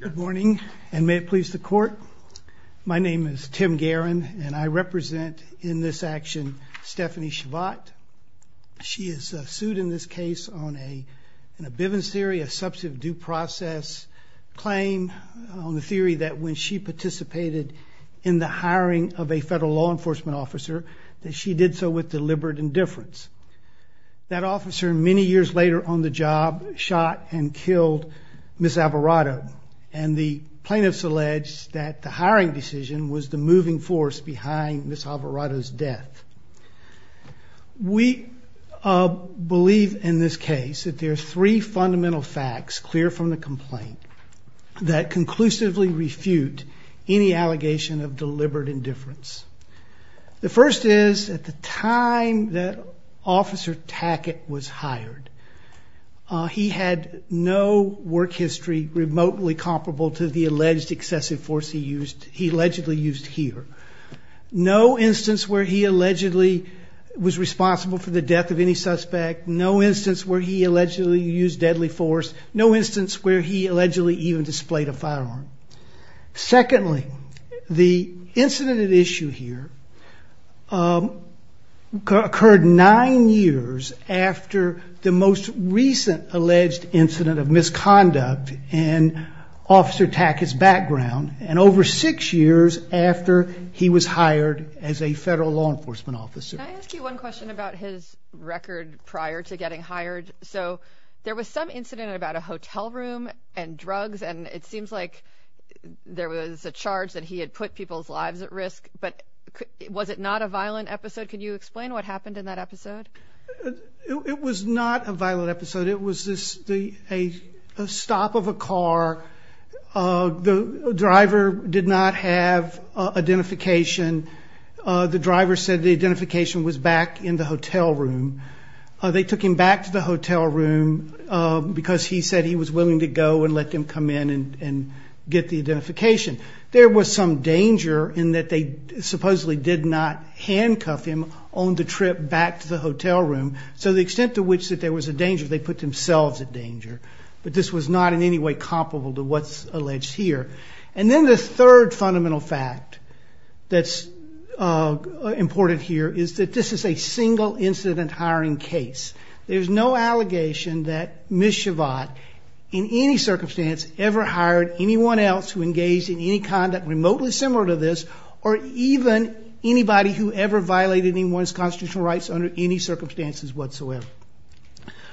Good morning, and may it please the court. My name is Tim Guerin, and I represent in this action Stephanie Shavatt. She is sued in this case on a in a Bivens theory, a substantive due process claim on the theory that when she participated in the hiring of a federal law enforcement officer that she did so with deliberate indifference. That officer many years later on the job shot and killed Ms. Alvarado, and the plaintiffs alleged that the hiring decision was the moving force behind Ms. Alvarado's death. We believe in this case that there are three fundamental facts clear from the complaint that conclusively refute any allegation of deliberate indifference. The first is, at the time that Officer Tackett was hired, he had no work history remotely comparable to the alleged excessive force he allegedly used here. No instance where he allegedly was responsible for the death of any suspect, no instance where he allegedly used deadly force, no instance where he allegedly even displayed a firearm. Secondly, the incident at issue here occurred nine years after the most recent alleged incident of misconduct in Officer Tackett's background, and over six years after he was hired as a federal law enforcement officer. Can I ask you one question about his record prior to getting hired? So there was some incident about a hotel room and drugs, and it seems like there was a charge that he had put people's lives at risk, but was it not a violent episode? Can you explain what happened in that episode? It was not a violent episode. It was a stop of a car. The driver did not have identification. The driver said the identification was back in the hotel room. They took him back to the hotel room because he said he was willing to go and let them come in and get the identification. There was some danger in that they supposedly did not handcuff him on the trip back to the hotel room, so the extent to which that there was a danger, they put themselves at danger. But this was not in any way comparable to what's alleged here. And then the third fundamental fact that's important here is that this is a single incident hiring case. There's no allegation that Ms. Shavatt, in any circumstance, ever hired anyone else who engaged in any conduct remotely similar to this or even anybody who ever violated anyone's constitutional rights under any circumstances whatsoever.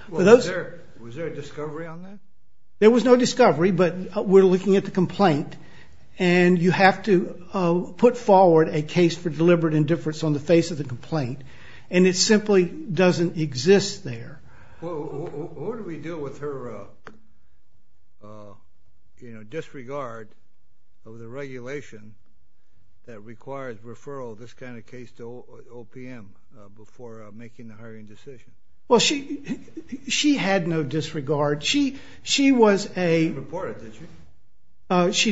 Was there a discovery on that? There was no discovery, but we're looking at the complaint, and you have to put forward a case for deliberate indifference on the face of the complaint, and it simply doesn't exist there. What do we do with her disregard of the regulation that requires referral of this kind of case to OPM before making the hiring decision? Well, she had no disregard. She did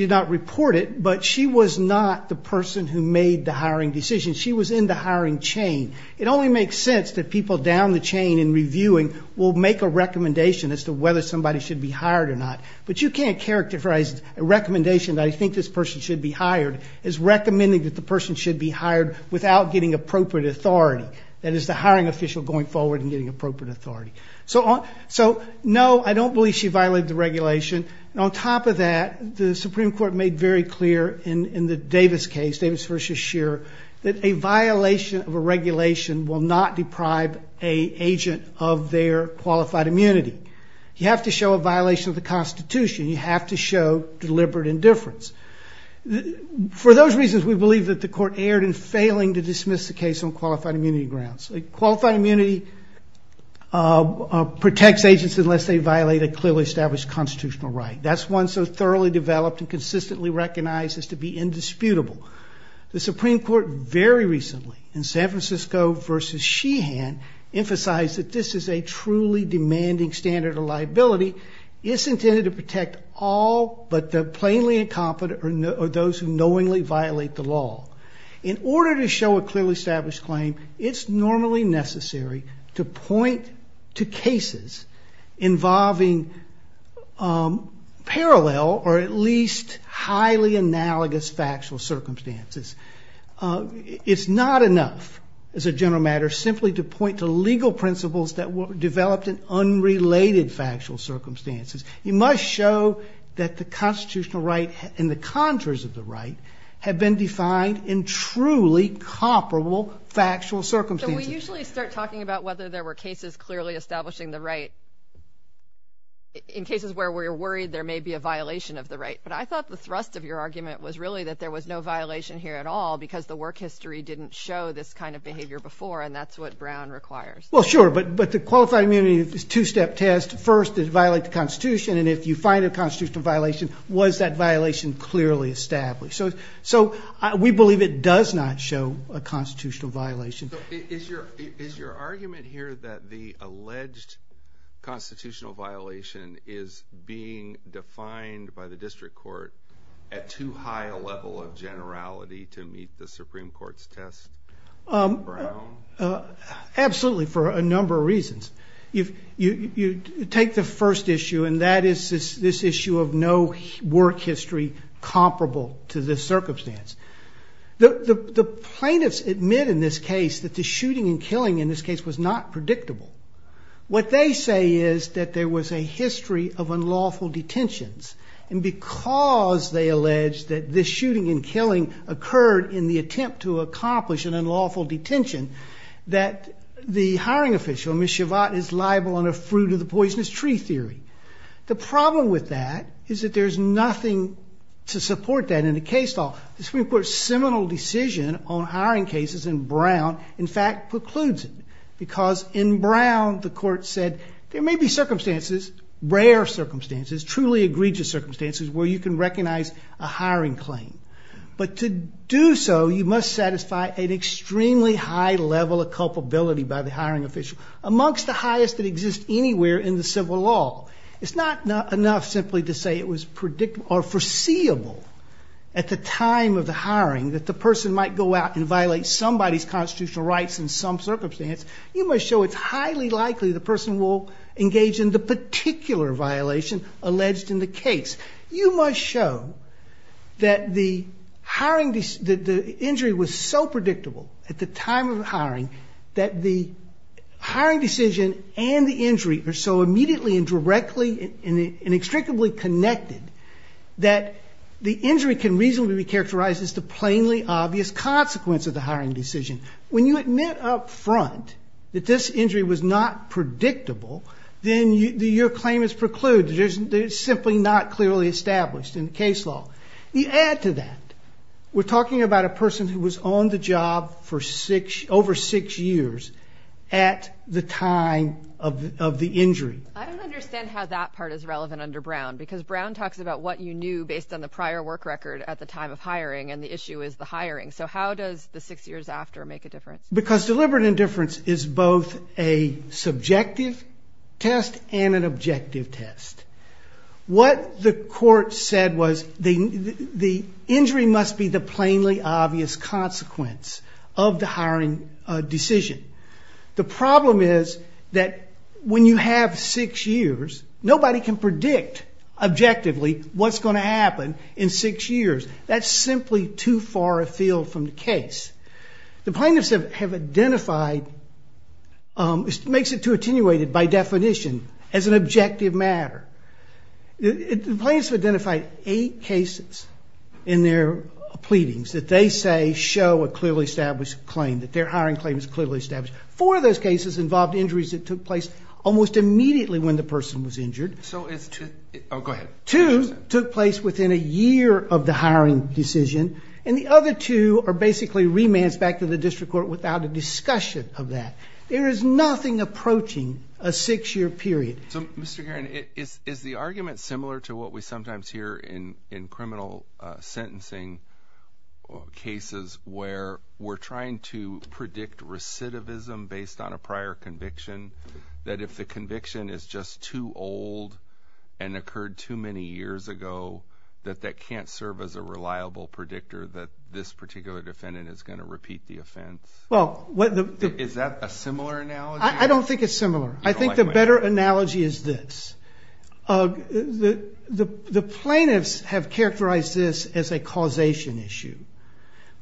not report it, but she was not the person who made the hiring decision. She was in the hiring chain. It only makes sense that people down the chain in reviewing will make a recommendation as to whether somebody should be hired or not. But you can't characterize a recommendation that I think this person should be hired as recommending that the person should be hired without getting appropriate authority. That is the hiring official going forward and getting appropriate authority. So, no, I don't believe she violated the regulation. On top of that, the Supreme Court made very clear in the Davis case, Davis v. Scheer, that a violation of a regulation will not deprive an agent of their qualified immunity. You have to show a violation of the Constitution. You have to show deliberate indifference. For those reasons, we believe that the court erred in failing to dismiss the case on qualified immunity grounds. Qualified immunity protects agents unless they violate a clearly established constitutional right. That's one so thoroughly developed and consistently recognized as to be indisputable. The Supreme Court very recently in San Francisco v. Sheehan emphasized that this is a truly demanding standard of liability. It's intended to protect all but the plainly incompetent or those who knowingly violate the law. In order to show a clearly established claim, it's normally necessary to point to cases involving parallel or at least highly analogous factual circumstances. It's not enough, as a general matter, simply to point to legal principles that were developed in unrelated factual circumstances. You must show that the constitutional right and the contours of the right have been defined in truly comparable factual circumstances. So we usually start talking about whether there were cases clearly establishing the right. In cases where we're worried there may be a violation of the right. But I thought the thrust of your argument was really that there was no violation here at all, because the work history didn't show this kind of behavior before, and that's what Brown requires. Well, sure, but the qualified immunity is a two-step test. First, it violates the Constitution, and if you find a constitutional violation, was that violation clearly established? So we believe it does not show a constitutional violation. Is your argument here that the alleged constitutional violation is being defined by the district court at too high a level of generality to meet the Supreme Court's test? Absolutely, for a number of reasons. You take the first issue, and that is this issue of no work history comparable to this circumstance. The plaintiffs admit in this case that the shooting and killing in this case was not predictable. What they say is that there was a history of unlawful detentions, and because they allege that this shooting and killing occurred in the attempt to accomplish an unlawful detention, that the hiring official, Ms. Shavatt, is liable under fruit-of-the-poisonous-tree theory. The problem with that is that there's nothing to support that in a case law. The Supreme Court's seminal decision on hiring cases in Brown, in fact, precludes it, because in Brown the court said there may be circumstances, rare circumstances, truly egregious circumstances, where you can recognize a hiring claim. But to do so, you must satisfy an extremely high level of culpability by the hiring official, amongst the highest that exist anywhere in the civil law. It's not enough simply to say it was predictable or foreseeable at the time of the hiring that the person might go out and violate somebody's constitutional rights in some circumstance. You must show it's highly likely the person will engage in the particular violation alleged in the case. You must show that the injury was so predictable at the time of the hiring that the hiring decision and the injury are so immediately and directly and inextricably connected that the injury can reasonably be characterized as the plainly obvious consequence of the hiring decision. When you admit up front that this injury was not predictable, then your claim is precluded. It's simply not clearly established in the case law. You add to that, we're talking about a person who was on the job for over six years at the time of the injury. I don't understand how that part is relevant under Brown, because Brown talks about what you knew based on the prior work record at the time of hiring, and the issue is the hiring. So how does the six years after make a difference? Because deliberate indifference is both a subjective test and an objective test. What the court said was the injury must be the plainly obvious consequence of the hiring decision. The problem is that when you have six years, nobody can predict objectively what's going to happen in six years. That's simply too far afield from the case. The plaintiffs have identified, makes it too attenuated by definition, as an objective matter. The plaintiffs have identified eight cases in their pleadings that they say show a clearly established claim, that their hiring claim is clearly established. Four of those cases involved injuries that took place almost immediately when the person was injured. Two took place within a year of the hiring decision, and the other two are basically remands back to the district court without a discussion of that. There is nothing approaching a six-year period. So, Mr. Garron, is the argument similar to what we sometimes hear in criminal sentencing cases where we're trying to predict recidivism based on a prior conviction, that if the conviction is just too old and occurred too many years ago, that that can't serve as a reliable predictor that this particular defendant is going to repeat the offense? Is that a similar analogy? I don't think it's similar. I think the better analogy is this. The plaintiffs have characterized this as a causation issue,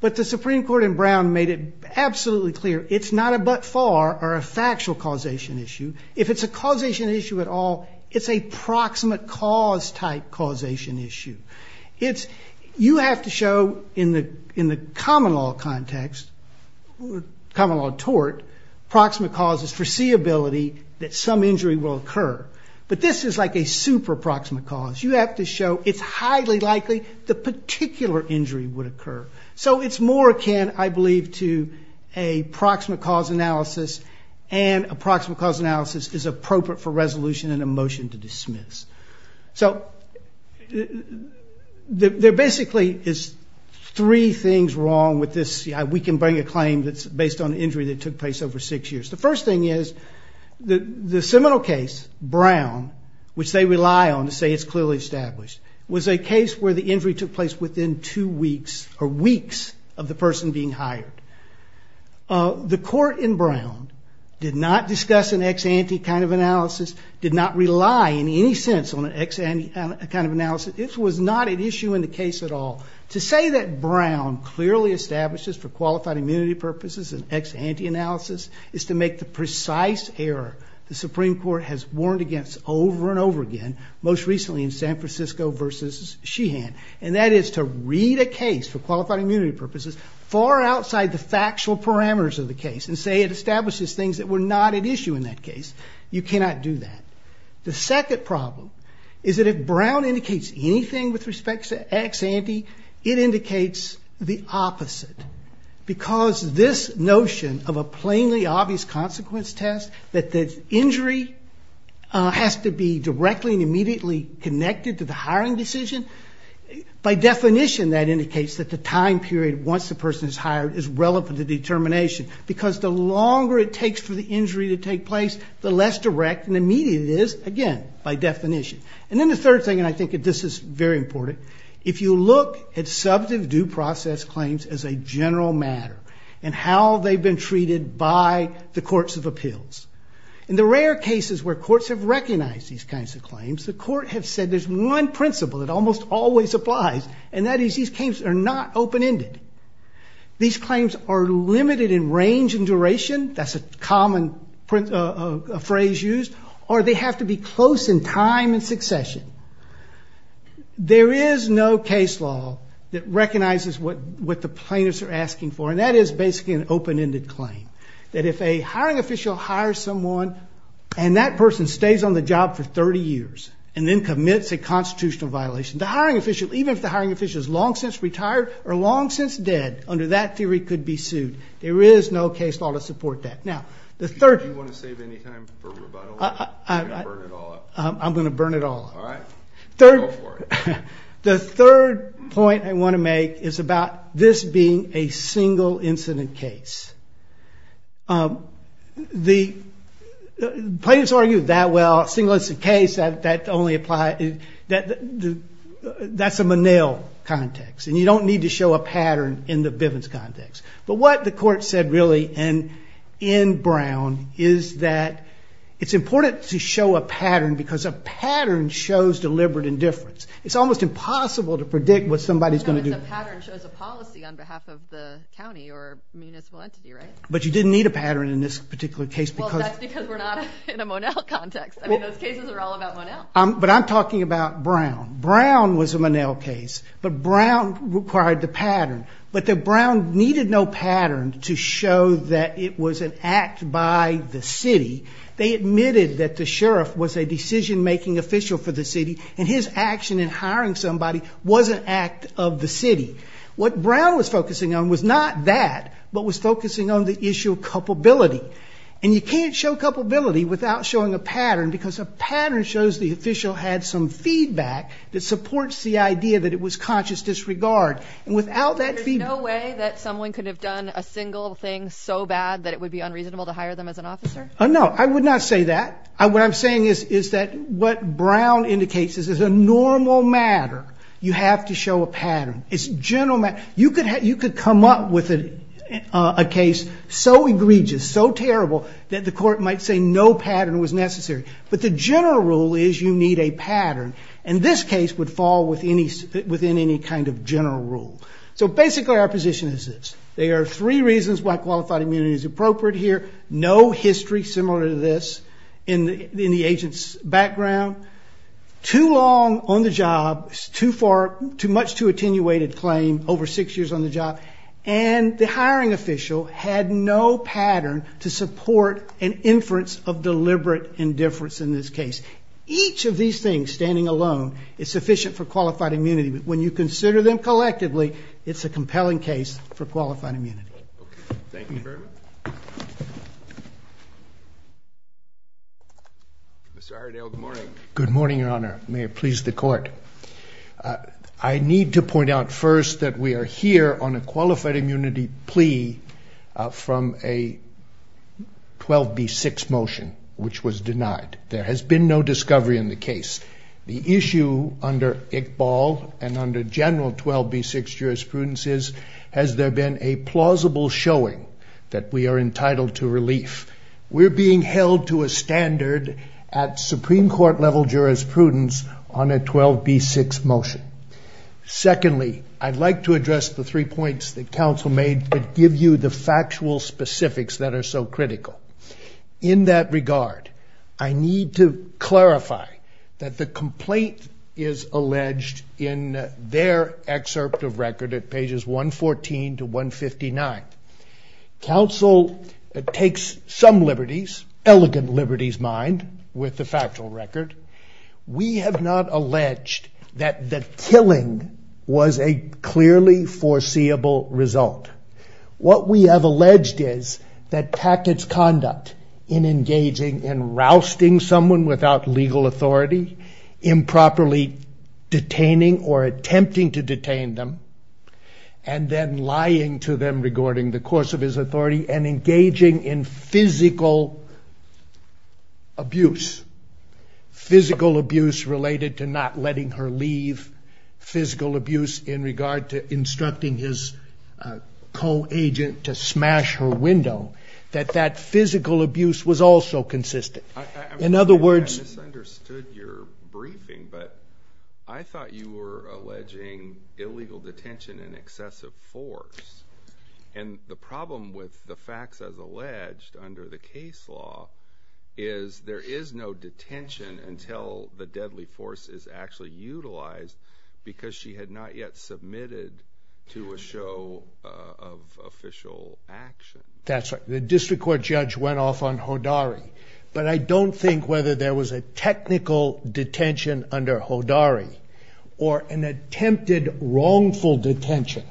but the Supreme Court in Brown made it absolutely clear it's not a but-for or a factual causation issue. If it's a causation issue at all, it's a proximate cause type causation issue. You have to show in the common law context, common law tort, proximate causes foreseeability that some injury will occur. But this is like a super proximate cause. You have to show it's highly likely the particular injury would occur. So it's more akin, I believe, to a proximate cause analysis, and a proximate cause analysis is appropriate for resolution and a motion to dismiss. So there basically is three things wrong with this. We can bring a claim that's based on an injury that took place over six years. The first thing is the seminal case, Brown, which they rely on to say it's clearly established, was a case where the injury took place within two weeks or weeks of the person being hired. The court in Brown did not discuss an ex-ante kind of analysis, did not rely in any sense on an ex-ante kind of analysis. This was not an issue in the case at all. To say that Brown clearly establishes for qualified immunity purposes an ex-ante analysis is to make the precise error the Supreme Court has warned against over and over again, most recently in San Francisco v. Sheehan, and that is to read a case for qualified immunity purposes far outside the factual parameters of the case and say it establishes things that were not at issue in that case. You cannot do that. The second problem is that if Brown indicates anything with respect to ex-ante, it indicates the opposite, because this notion of a plainly obvious consequence test, that the injury has to be directly and immediately connected to the hiring decision, by definition that indicates that the time period once the person is hired is relevant to determination, because the longer it takes for the injury to take place, the less direct and immediate it is, again, by definition. And then the third thing, and I think this is very important, if you look at substantive due process claims as a general matter and how they've been treated by the courts of appeals, in the rare cases where courts have recognized these kinds of claims, the court has said there's one principle that almost always applies, and that is these claims are not open-ended. These claims are limited in range and duration. That's a common phrase used. Or they have to be close in time and succession. There is no case law that recognizes what the plaintiffs are asking for, and that is basically an open-ended claim, that if a hiring official hires someone and that person stays on the job for 30 years and then commits a constitutional violation, the hiring official, even if the hiring official is long since retired or long since dead, under that theory could be sued. There is no case law to support that. Now, the third... Do you want to save any time for rebuttal? I'm going to burn it all up. All right. Go for it. The third point I want to make is about this being a single-incident case. The plaintiffs argue that well, a single-incident case, that only applies... That's a Monell context, and you don't need to show a pattern in the Bivens context. But what the court said really in Brown is that it's important to show a pattern because a pattern shows deliberate indifference. It's almost impossible to predict what somebody's going to do. No, it's a pattern shows a policy on behalf of the county or municipal entity, right? But you didn't need a pattern in this particular case because... Well, that's because we're not in a Monell context. I mean, those cases are all about Monell. But I'm talking about Brown. Brown was a Monell case, but Brown required the pattern. But that Brown needed no pattern to show that it was an act by the city. They admitted that the sheriff was a decision-making official for the city and his action in hiring somebody was an act of the city. What Brown was focusing on was not that, but was focusing on the issue of culpability. And you can't show culpability without showing a pattern because a pattern shows the official had some feedback that supports the idea that it was conscious disregard. And without that feedback... There's no way that someone could have done a single thing so bad that it would be unreasonable to hire them as an officer? No, I would not say that. What I'm saying is that what Brown indicates is as a normal matter, you have to show a pattern. It's a general matter. You could come up with a case so egregious, so terrible, that the court might say no pattern was necessary. But the general rule is you need a pattern. And this case would fall within any kind of general rule. So basically our position is this. There are three reasons why qualified immunity is appropriate here. No history similar to this in the agent's background. Too long on the job, much too attenuated claim, over six years on the job, and the hiring official had no pattern to support an inference of deliberate indifference in this case. Each of these things, standing alone, is sufficient for qualified immunity. But when you consider them collectively, it's a compelling case for qualified immunity. Thank you very much. Mr. Aredale, good morning. Good morning, Your Honor. May it please the court. I need to point out first that we are here on a qualified immunity plea from a 12B6 motion, which was denied. There has been no discovery in the case. The issue under Iqbal and under general 12B6 jurisprudence is, has there been a plausible showing that we are entitled to relief? We're being held to a standard at Supreme Court level jurisprudence on a 12B6 motion. Secondly, I'd like to address the three points that counsel made that give you the factual specifics that are so critical. In that regard, I need to clarify that the complaint is alleged in their excerpt of record at pages 114 to 159. Counsel takes some liberties, elegant liberties, mind, with the factual record. We have not alleged that the killing was a clearly foreseeable result. What we have alleged is that Packett's conduct in engaging in rousting someone without legal authority, improperly detaining or attempting to detain them, and then lying to them regarding the course of his authority and engaging in physical abuse, physical abuse related to not letting her leave, physical abuse in regard to instructing his co-agent to smash her window, that that physical abuse was also consistent. In other words... I misunderstood your briefing, but I thought you were alleging illegal detention in excessive force. And the problem with the facts as alleged under the case law is there is no detention until the deadly force is actually utilized because she had not yet submitted to a show of official action. That's right. The district court judge went off on Hodari, but I don't think whether there was a technical detention under Hodari or an attempted wrongful detention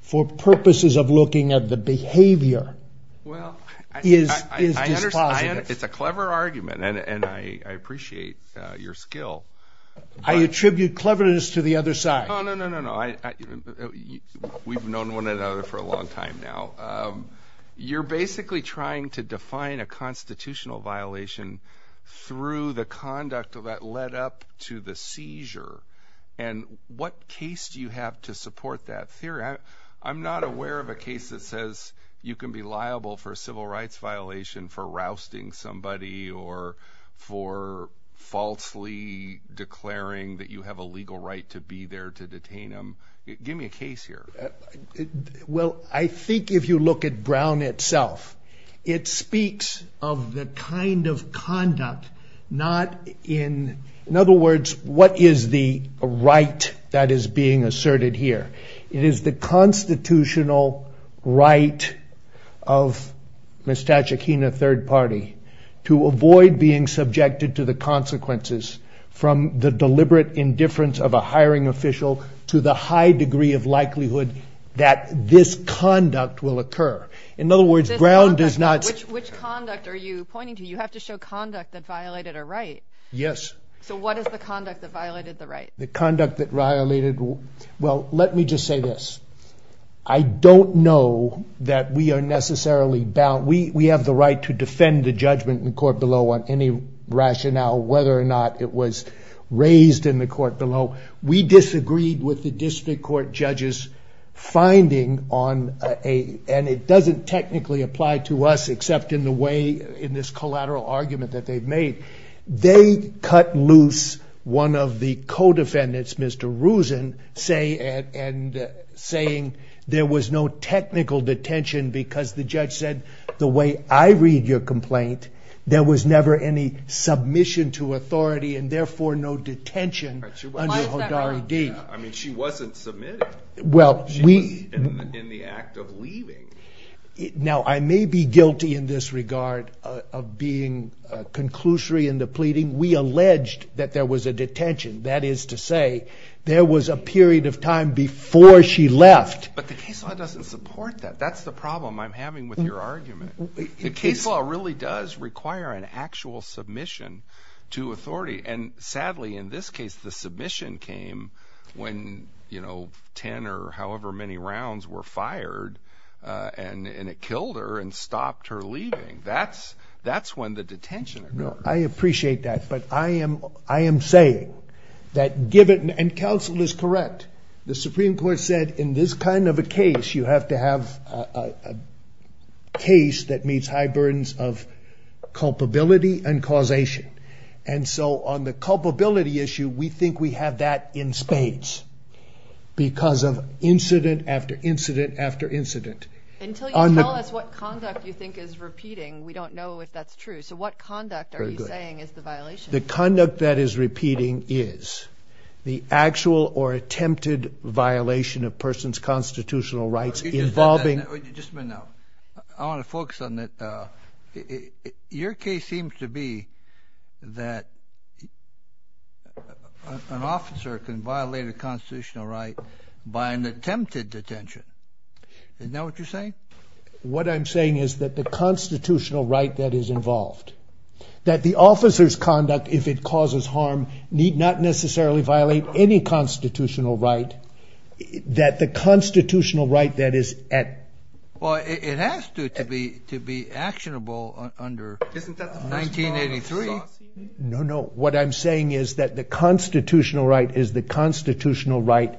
for purposes of looking at the behavior is dispositive. It's a clever argument, and I appreciate your skill. I attribute cleverness to the other side. No, no, no, no. We've known one another for a long time now. You're basically trying to define a constitutional violation through the conduct that led up to the seizure, and what case do you have to support that theory? I'm not aware of a case that says you can be liable for a civil rights violation for rousting somebody or for falsely declaring that you have a legal right to be there to detain them. Give me a case here. Well, I think if you look at Brown itself, it speaks of the kind of conduct not in, in other words, what is the right that is being asserted here. It is the constitutional right of Ms. Tachikina, third party, to avoid being subjected to the consequences from the deliberate indifference of a hiring official to the high degree of likelihood that this conduct will occur. In other words, Brown does not. Which conduct are you pointing to? You have to show conduct that violated a right. Yes. So what is the conduct that violated the right? The conduct that violated. Well, let me just say this. I don't know that we are necessarily bound. We have the right to defend the judgment in court below on any rationale whether or not it was raised in the court below. We disagreed with the district court judges finding on a, and it doesn't technically apply to us except in the way, in this collateral argument that they've made. They cut loose one of the co-defendants, Mr. Rosen, saying there was no technical detention because the judge said, the way I read your complaint, there was never any submission to authority and therefore no detention under Hodari D. Why is that right? I mean, she wasn't submitted. She was in the act of leaving. Now, I may be guilty in this regard of being conclusory in the pleading. We alleged that there was a detention. That is to say, there was a period of time before she left. But the case law doesn't support that. That's the problem I'm having with your argument. The case law really does require an actual submission to authority. And sadly, in this case, the submission came when 10 or however many rounds were fired and it killed her and stopped her leaving. That's when the detention occurred. No, I appreciate that. But I am saying that given, and counsel is correct, the Supreme Court said in this kind of a case, you have to have a case that meets high burdens of culpability and causation. And so on the culpability issue, we think we have that in spades because of incident after incident after incident. Until you tell us what conduct you think is repeating, we don't know if that's true. So what conduct are you saying is the violation? The conduct that is repeating is the actual or attempted violation of a person's constitutional rights involving. Just a minute now. I want to focus on that. Your case seems to be that an officer can violate a constitutional right by an attempted detention. Isn't that what you're saying? What I'm saying is that the constitutional right that is involved, that the officer's conduct, if it causes harm, need not necessarily violate any constitutional right. That the constitutional right that is at. Well, it has to be actionable under 1983. No, no. What I'm saying is that the constitutional right is the constitutional right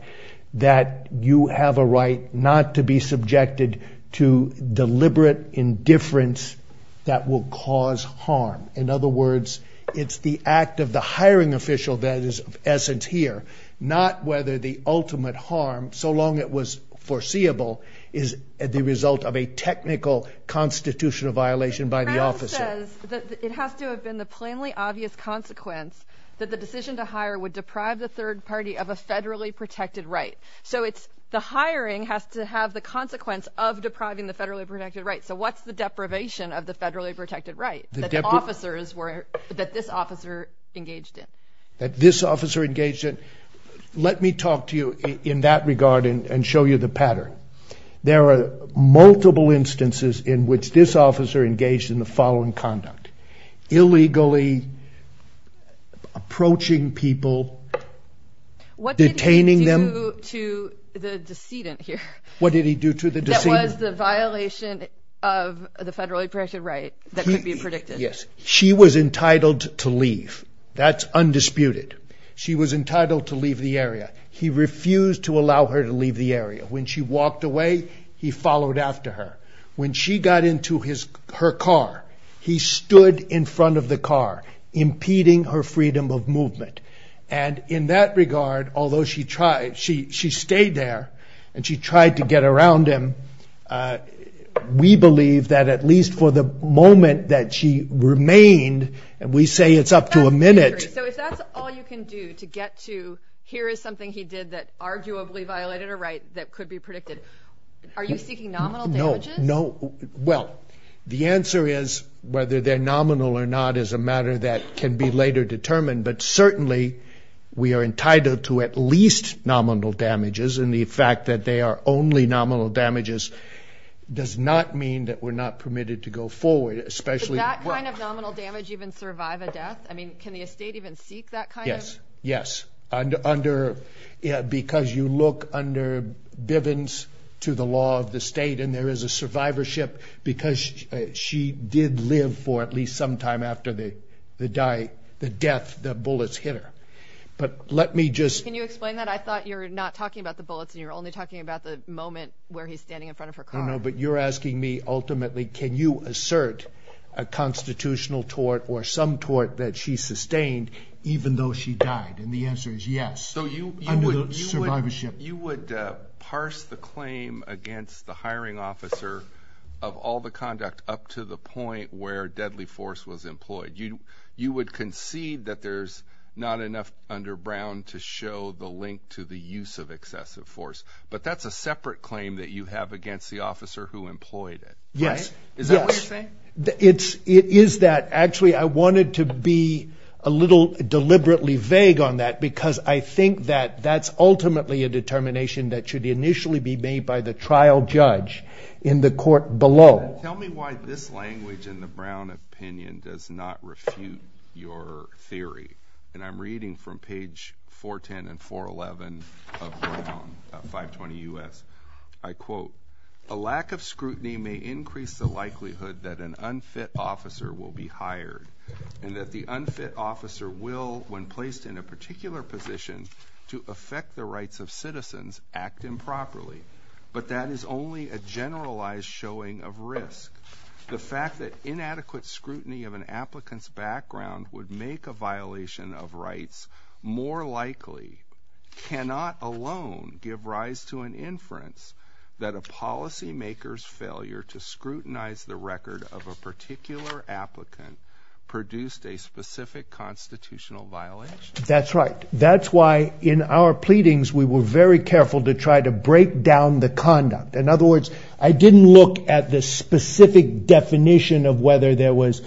that you have a right not to be subjected to deliberate indifference that will cause harm. In other words, it's the act of the hiring official that is of essence here, not whether the ultimate harm, so long it was foreseeable, is the result of a technical constitutional violation by the officer. Brown says that it has to have been the plainly obvious consequence that the decision to hire would deprive the third party of a federally protected right. So it's the hiring has to have the consequence of depriving the federally protected right. So what's the deprivation of the federally protected right? That the officers were, that this officer engaged in. That this officer engaged in. Let me talk to you in that regard and show you the pattern. There are multiple instances in which this officer engaged in the following conduct. Illegally approaching people, detaining them. What did he do to the decedent here? What did he do to the decedent? What was the violation of the federally protected right that could be predicted? She was entitled to leave. That's undisputed. She was entitled to leave the area. He refused to allow her to leave the area. When she walked away, he followed after her. When she got into her car, he stood in front of the car, impeding her freedom of movement. And in that regard, although she stayed there and she tried to get around him, we believe that at least for the moment that she remained, and we say it's up to a minute. So if that's all you can do to get to here is something he did that arguably violated a right that could be predicted, are you seeking nominal damages? No. Well, the answer is whether they're nominal or not is a matter that can be later determined. But certainly we are entitled to at least nominal damages, and the fact that they are only nominal damages does not mean that we're not permitted to go forward. Does that kind of nominal damage even survive a death? I mean, can the estate even seek that kind of? Yes, yes, because you look under Bivens to the law of the state, and there is a survivorship because she did live for at least some time after the death that bullets hit her. But let me just – Can you explain that? I thought you were not talking about the bullets and you were only talking about the moment where he's standing in front of her car. No, no, but you're asking me ultimately can you assert a constitutional tort or some tort that she sustained even though she died, and the answer is yes, under the survivorship. So you would parse the claim against the hiring officer of all the conduct up to the point where deadly force was employed. You would concede that there's not enough under Brown to show the link to the use of excessive force, but that's a separate claim that you have against the officer who employed it. Yes, yes. Is that what you're saying? It is that. Actually, I wanted to be a little deliberately vague on that because I think that that's ultimately a determination that should initially be made by the trial judge in the court below. Tell me why this language in the Brown opinion does not refute your theory, and I'm reading from page 410 and 411 of Brown, 520 U.S. I quote, A lack of scrutiny may increase the likelihood that an unfit officer will be hired and that the unfit officer will, when placed in a particular position, to affect the rights of citizens, act improperly, but that is only a generalized showing of risk. The fact that inadequate scrutiny of an applicant's background would make a violation of rights more likely cannot alone give rise to an inference that a policymaker's failure to scrutinize the record of a particular applicant produced a specific constitutional violation. That's right. That's why in our pleadings, we were very careful to try to break down the conduct. In other words, I didn't look at the specific definition of whether there was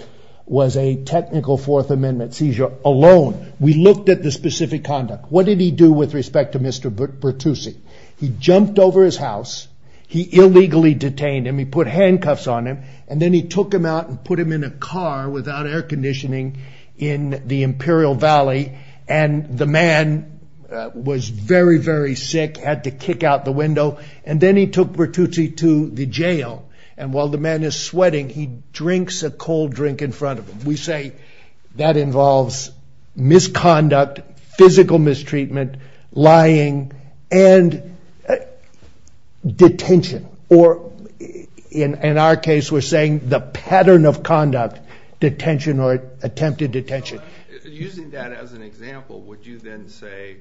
a technical Fourth Amendment seizure alone. We looked at the specific conduct. What did he do with respect to Mr. Bertucci? He jumped over his house. He illegally detained him. He put handcuffs on him, and then he took him out and put him in a car without air conditioning in the Imperial Valley, and the man was very, very sick, had to kick out the window, and then he took Bertucci to the jail, and while the man is sweating, he drinks a cold drink in front of him. We say that involves misconduct, physical mistreatment, lying, and detention, or in our case, we're saying the pattern of conduct, detention or attempted detention. Using that as an example, would you then say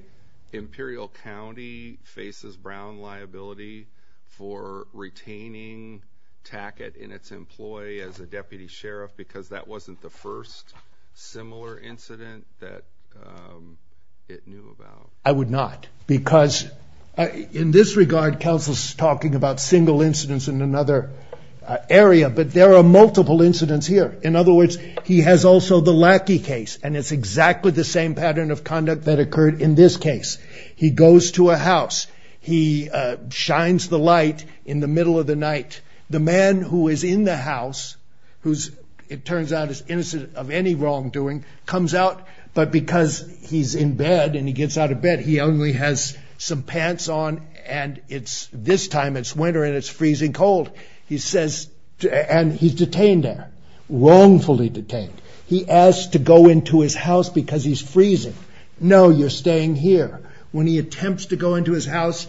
Imperial County faces Brown liability for retaining Tackett in its employ as a deputy sheriff because that wasn't the first similar incident that it knew about? I would not because in this regard, counsel is talking about single incidents in another area, but there are multiple incidents here. In other words, he has also the Lackey case, and it's exactly the same pattern of conduct that occurred in this case. He goes to a house. He shines the light in the middle of the night. The man who is in the house, who, it turns out, is innocent of any wrongdoing, comes out, but because he's in bed and he gets out of bed, he only has some pants on, and this time it's winter and it's freezing cold, and he's detained there, wrongfully detained. He asks to go into his house because he's freezing. No, you're staying here. When he attempts to go into his house,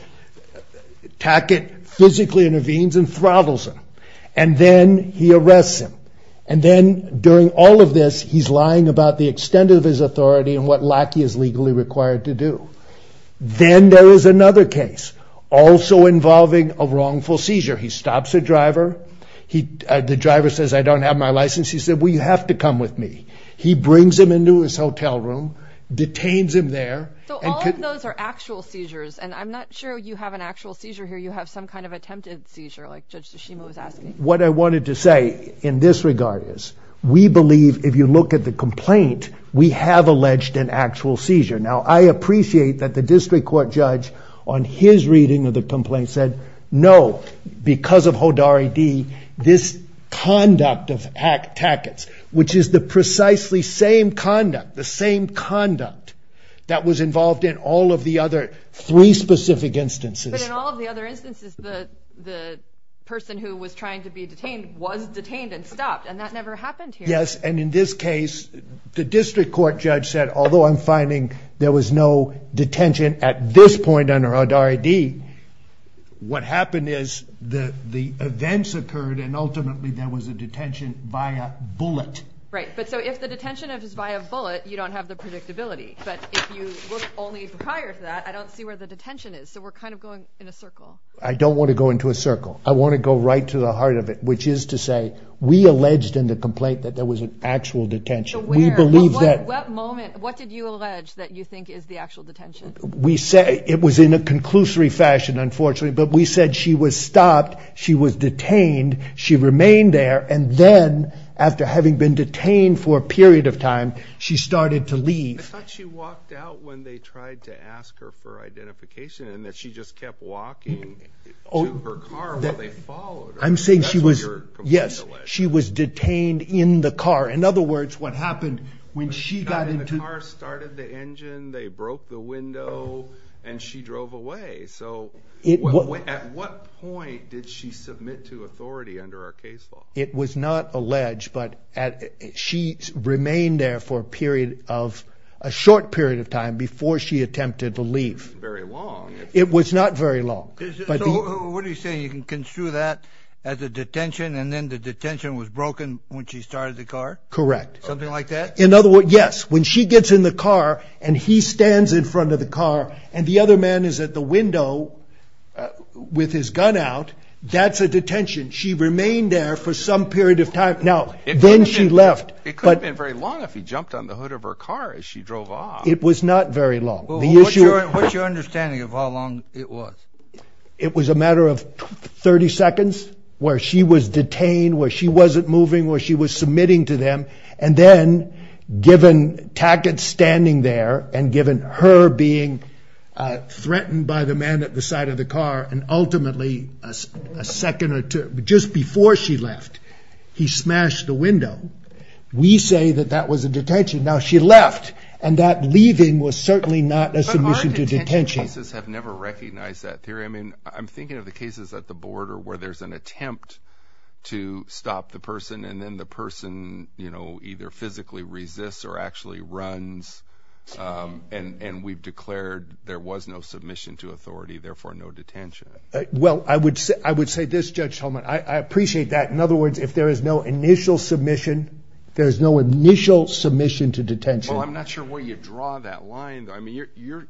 Tackett physically intervenes and throttles him, and then he arrests him, and then during all of this, he's lying about the extent of his authority and what Lackey is legally required to do. Then there is another case also involving a wrongful seizure. He stops a driver. The driver says, I don't have my license. He said, well, you have to come with me. He brings him into his hotel room, detains him there. So all of those are actual seizures, and I'm not sure you have an actual seizure here. You have some kind of attempted seizure, like Judge Tsushima was asking. What I wanted to say in this regard is we believe, if you look at the complaint, we have alleged an actual seizure. Now, I appreciate that the district court judge, on his reading of the complaint, said no, because of Hodari D., this conduct of Tackett's, which is the precisely same conduct, the same conduct, that was involved in all of the other three specific instances. But in all of the other instances, the person who was trying to be detained was detained and stopped, and that never happened here. Yes, and in this case, the district court judge said, although I'm finding there was no detention at this point under Hodari D., what happened is the events occurred, and ultimately there was a detention via bullet. Right, but so if the detention is via bullet, you don't have the predictability. But if you look only prior to that, I don't see where the detention is. So we're kind of going in a circle. I don't want to go into a circle. I want to go right to the heart of it, which is to say, we alleged in the complaint that there was an actual detention. So where? At what moment? What did you allege that you think is the actual detention? We say it was in a conclusory fashion, unfortunately, but we said she was stopped, she was detained, she remained there, and then after having been detained for a period of time, she started to leave. I thought she walked out when they tried to ask her for identification and that she just kept walking to her car while they followed her. I'm saying she was, yes, she was detained in the car. In other words, what happened when she got into... they broke the window and she drove away. So at what point did she submit to authority under our case law? It was not alleged, but she remained there for a short period of time before she attempted to leave. It wasn't very long. It was not very long. So what are you saying, you can construe that as a detention and then the detention was broken when she started the car? Correct. Something like that? In other words, yes, when she gets in the car and he stands in front of the car and the other man is at the window with his gun out, that's a detention. She remained there for some period of time. Now, then she left. It couldn't have been very long if he jumped on the hood of her car as she drove off. It was not very long. What's your understanding of how long it was? It was a matter of 30 seconds where she was detained, where she wasn't moving, where she was submitting to them, and then given Tackett standing there and given her being threatened by the man at the side of the car and ultimately a second or two, just before she left, he smashed the window, we say that that was a detention. Now, she left, and that leaving was certainly not a submission to detention. But our detention offices have never recognized that theory. I mean, I'm thinking of the cases at the border where there's an attempt to stop the person, and then the person either physically resists or actually runs, and we've declared there was no submission to authority, therefore no detention. Well, I would say this, Judge Tolman, I appreciate that. In other words, if there is no initial submission, there's no initial submission to detention. Well, I'm not sure where you draw that line. I mean,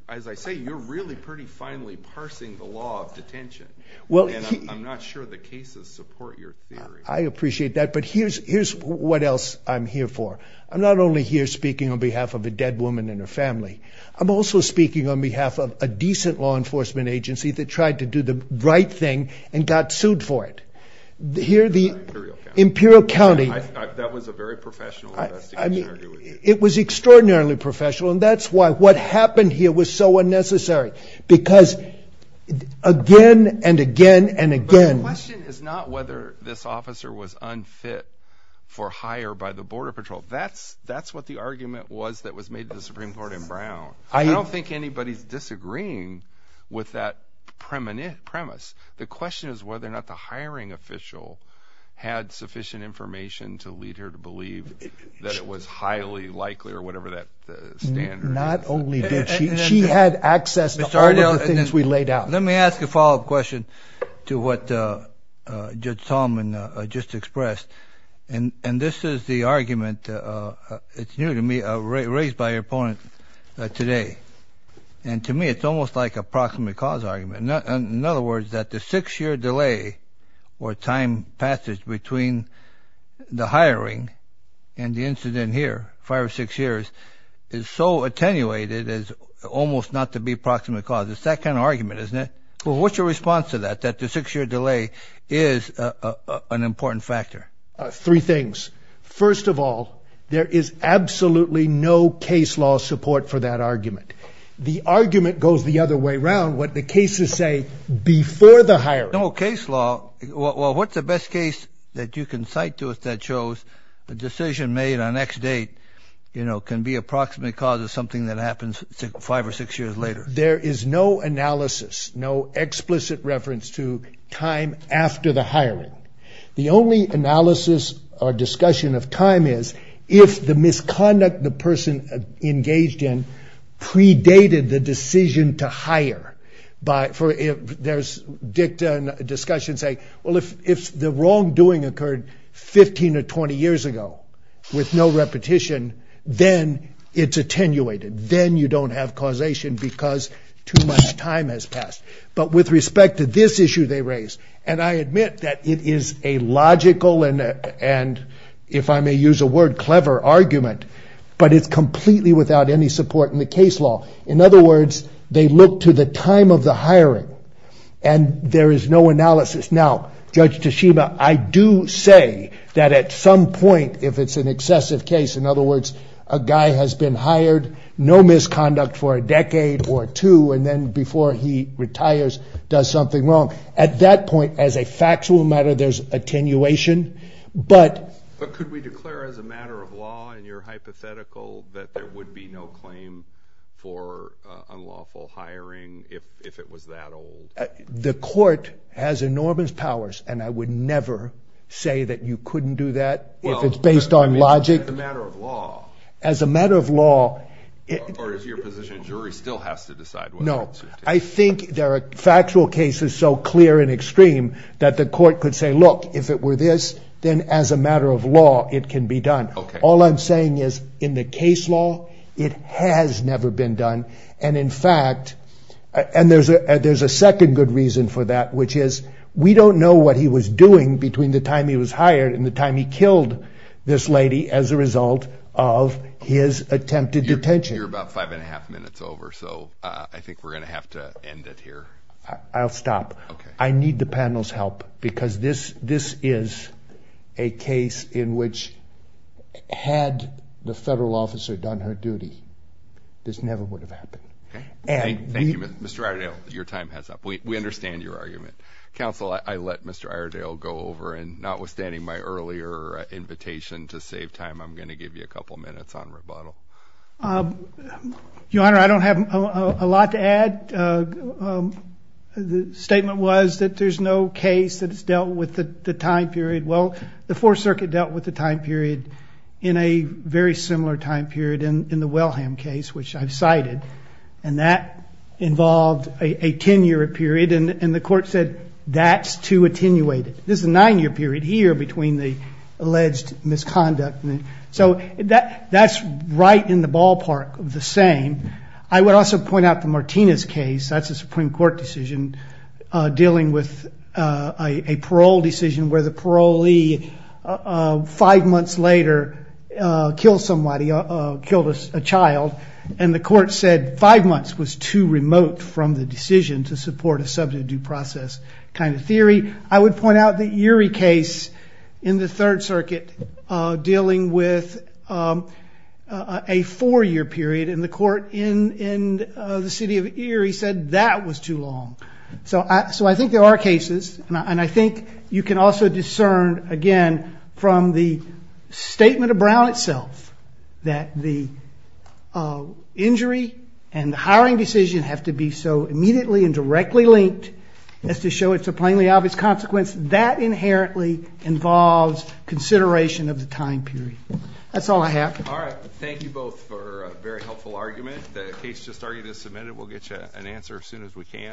as I say, you're really pretty finely parsing the law of detention. And I'm not sure the cases support your theory. I appreciate that. But here's what else I'm here for. I'm not only here speaking on behalf of a dead woman and her family. I'm also speaking on behalf of a decent law enforcement agency that tried to do the right thing and got sued for it. Here, the Imperial County. That was a very professional investigation. It was extraordinarily professional, and that's why what happened here was so unnecessary. Because again and again and again. But the question is not whether this officer was unfit for hire by the Border Patrol. That's what the argument was that was made to the Supreme Court in Brown. I don't think anybody's disagreeing with that premise. The question is whether or not the hiring official had sufficient information to lead her to believe that it was highly likely or whatever that standard is. She had access to all of the things we laid out. Let me ask a follow-up question to what Judge Solomon just expressed. And this is the argument, it's new to me, raised by your opponent today. And to me, it's almost like a proximate cause argument. In other words, that the six-year delay or time passage between the hiring and the incident here, five or six years, is so attenuated as almost not to be proximate cause. It's that kind of argument, isn't it? What's your response to that, that the six-year delay is an important factor? Three things. First of all, there is absolutely no case law support for that argument. The argument goes the other way around, what the cases say before the hiring. No case law? Well, what's the best case that you can cite to us that shows the decision made on X date can be a proximate cause of something that happens five or six years later? There is no analysis, no explicit reference to time after the hiring. The only analysis or discussion of time is if the misconduct the person engaged in predated the decision to hire. There's discussion saying, well, if the wrongdoing occurred 15 or 20 years ago with no repetition, then it's attenuated. Then you don't have causation because too much time has passed. But with respect to this issue they raise, and I admit that it is a logical and, if I may use a word, clever argument, but it's completely without any support in the case law. In other words, they look to the time of the hiring and there is no analysis. Now, Judge Toshiba, I do say that at some point, if it's an excessive case, in other words, a guy has been hired, no misconduct for a decade or two, and then before he retires does something wrong. At that point, as a factual matter, there's attenuation. But could we declare as a matter of law in your hypothetical that there would be no claim for unlawful hiring if it was that old? The court has enormous powers, and I would never say that you couldn't do that if it's based on logic. Well, as a matter of law. As a matter of law. Or is your position a jury still has to decide whether to take it? No, I think there are factual cases so clear and extreme that the court could say, look, if it were this, then as a matter of law it can be done. All I'm saying is, in the case law, it has never been done. And in fact, and there's a second good reason for that, which is we don't know what he was doing between the time he was hired and the time he killed this lady as a result of his attempted detention. You're about five and a half minutes over, so I think we're going to have to end it here. I'll stop. Okay. I need the panel's help because this is a case in which, had the federal officer done her duty, this never would have happened. Thank you, Mr. Iredale. Your time has up. We understand your argument. Counsel, I let Mr. Iredale go over, and notwithstanding my earlier invitation to save time, I'm going to give you a couple minutes on rebuttal. Your Honor, I don't have a lot to add. The statement was that there's no case that has dealt with the time period. Well, the Fourth Circuit dealt with the time period in a very similar time period in the Wellham case, which I've cited, and that involved a 10-year period, and the court said that's too attenuated. This is a nine-year period here between the alleged misconduct. So that's right in the ballpark of the same. I would also point out the Martinez case. That's a Supreme Court decision dealing with a parole decision where the parolee, five months later, killed somebody, killed a child, and the court said five months was too remote from the decision to support a subject of due process kind of theory. I would point out the Urey case in the Third Circuit dealing with a four-year period, and the court in the city of Erie said that was too long. So I think there are cases, and I think you can also discern, again, from the statement of Brown itself that the injury and the hiring decision have to be so immediately and directly linked as to show it's a plainly obvious consequence. That inherently involves consideration of the time period. That's all I have. All right. Thank you both for a very helpful argument. The case just argued is submitted. We'll get you an answer as soon as we can.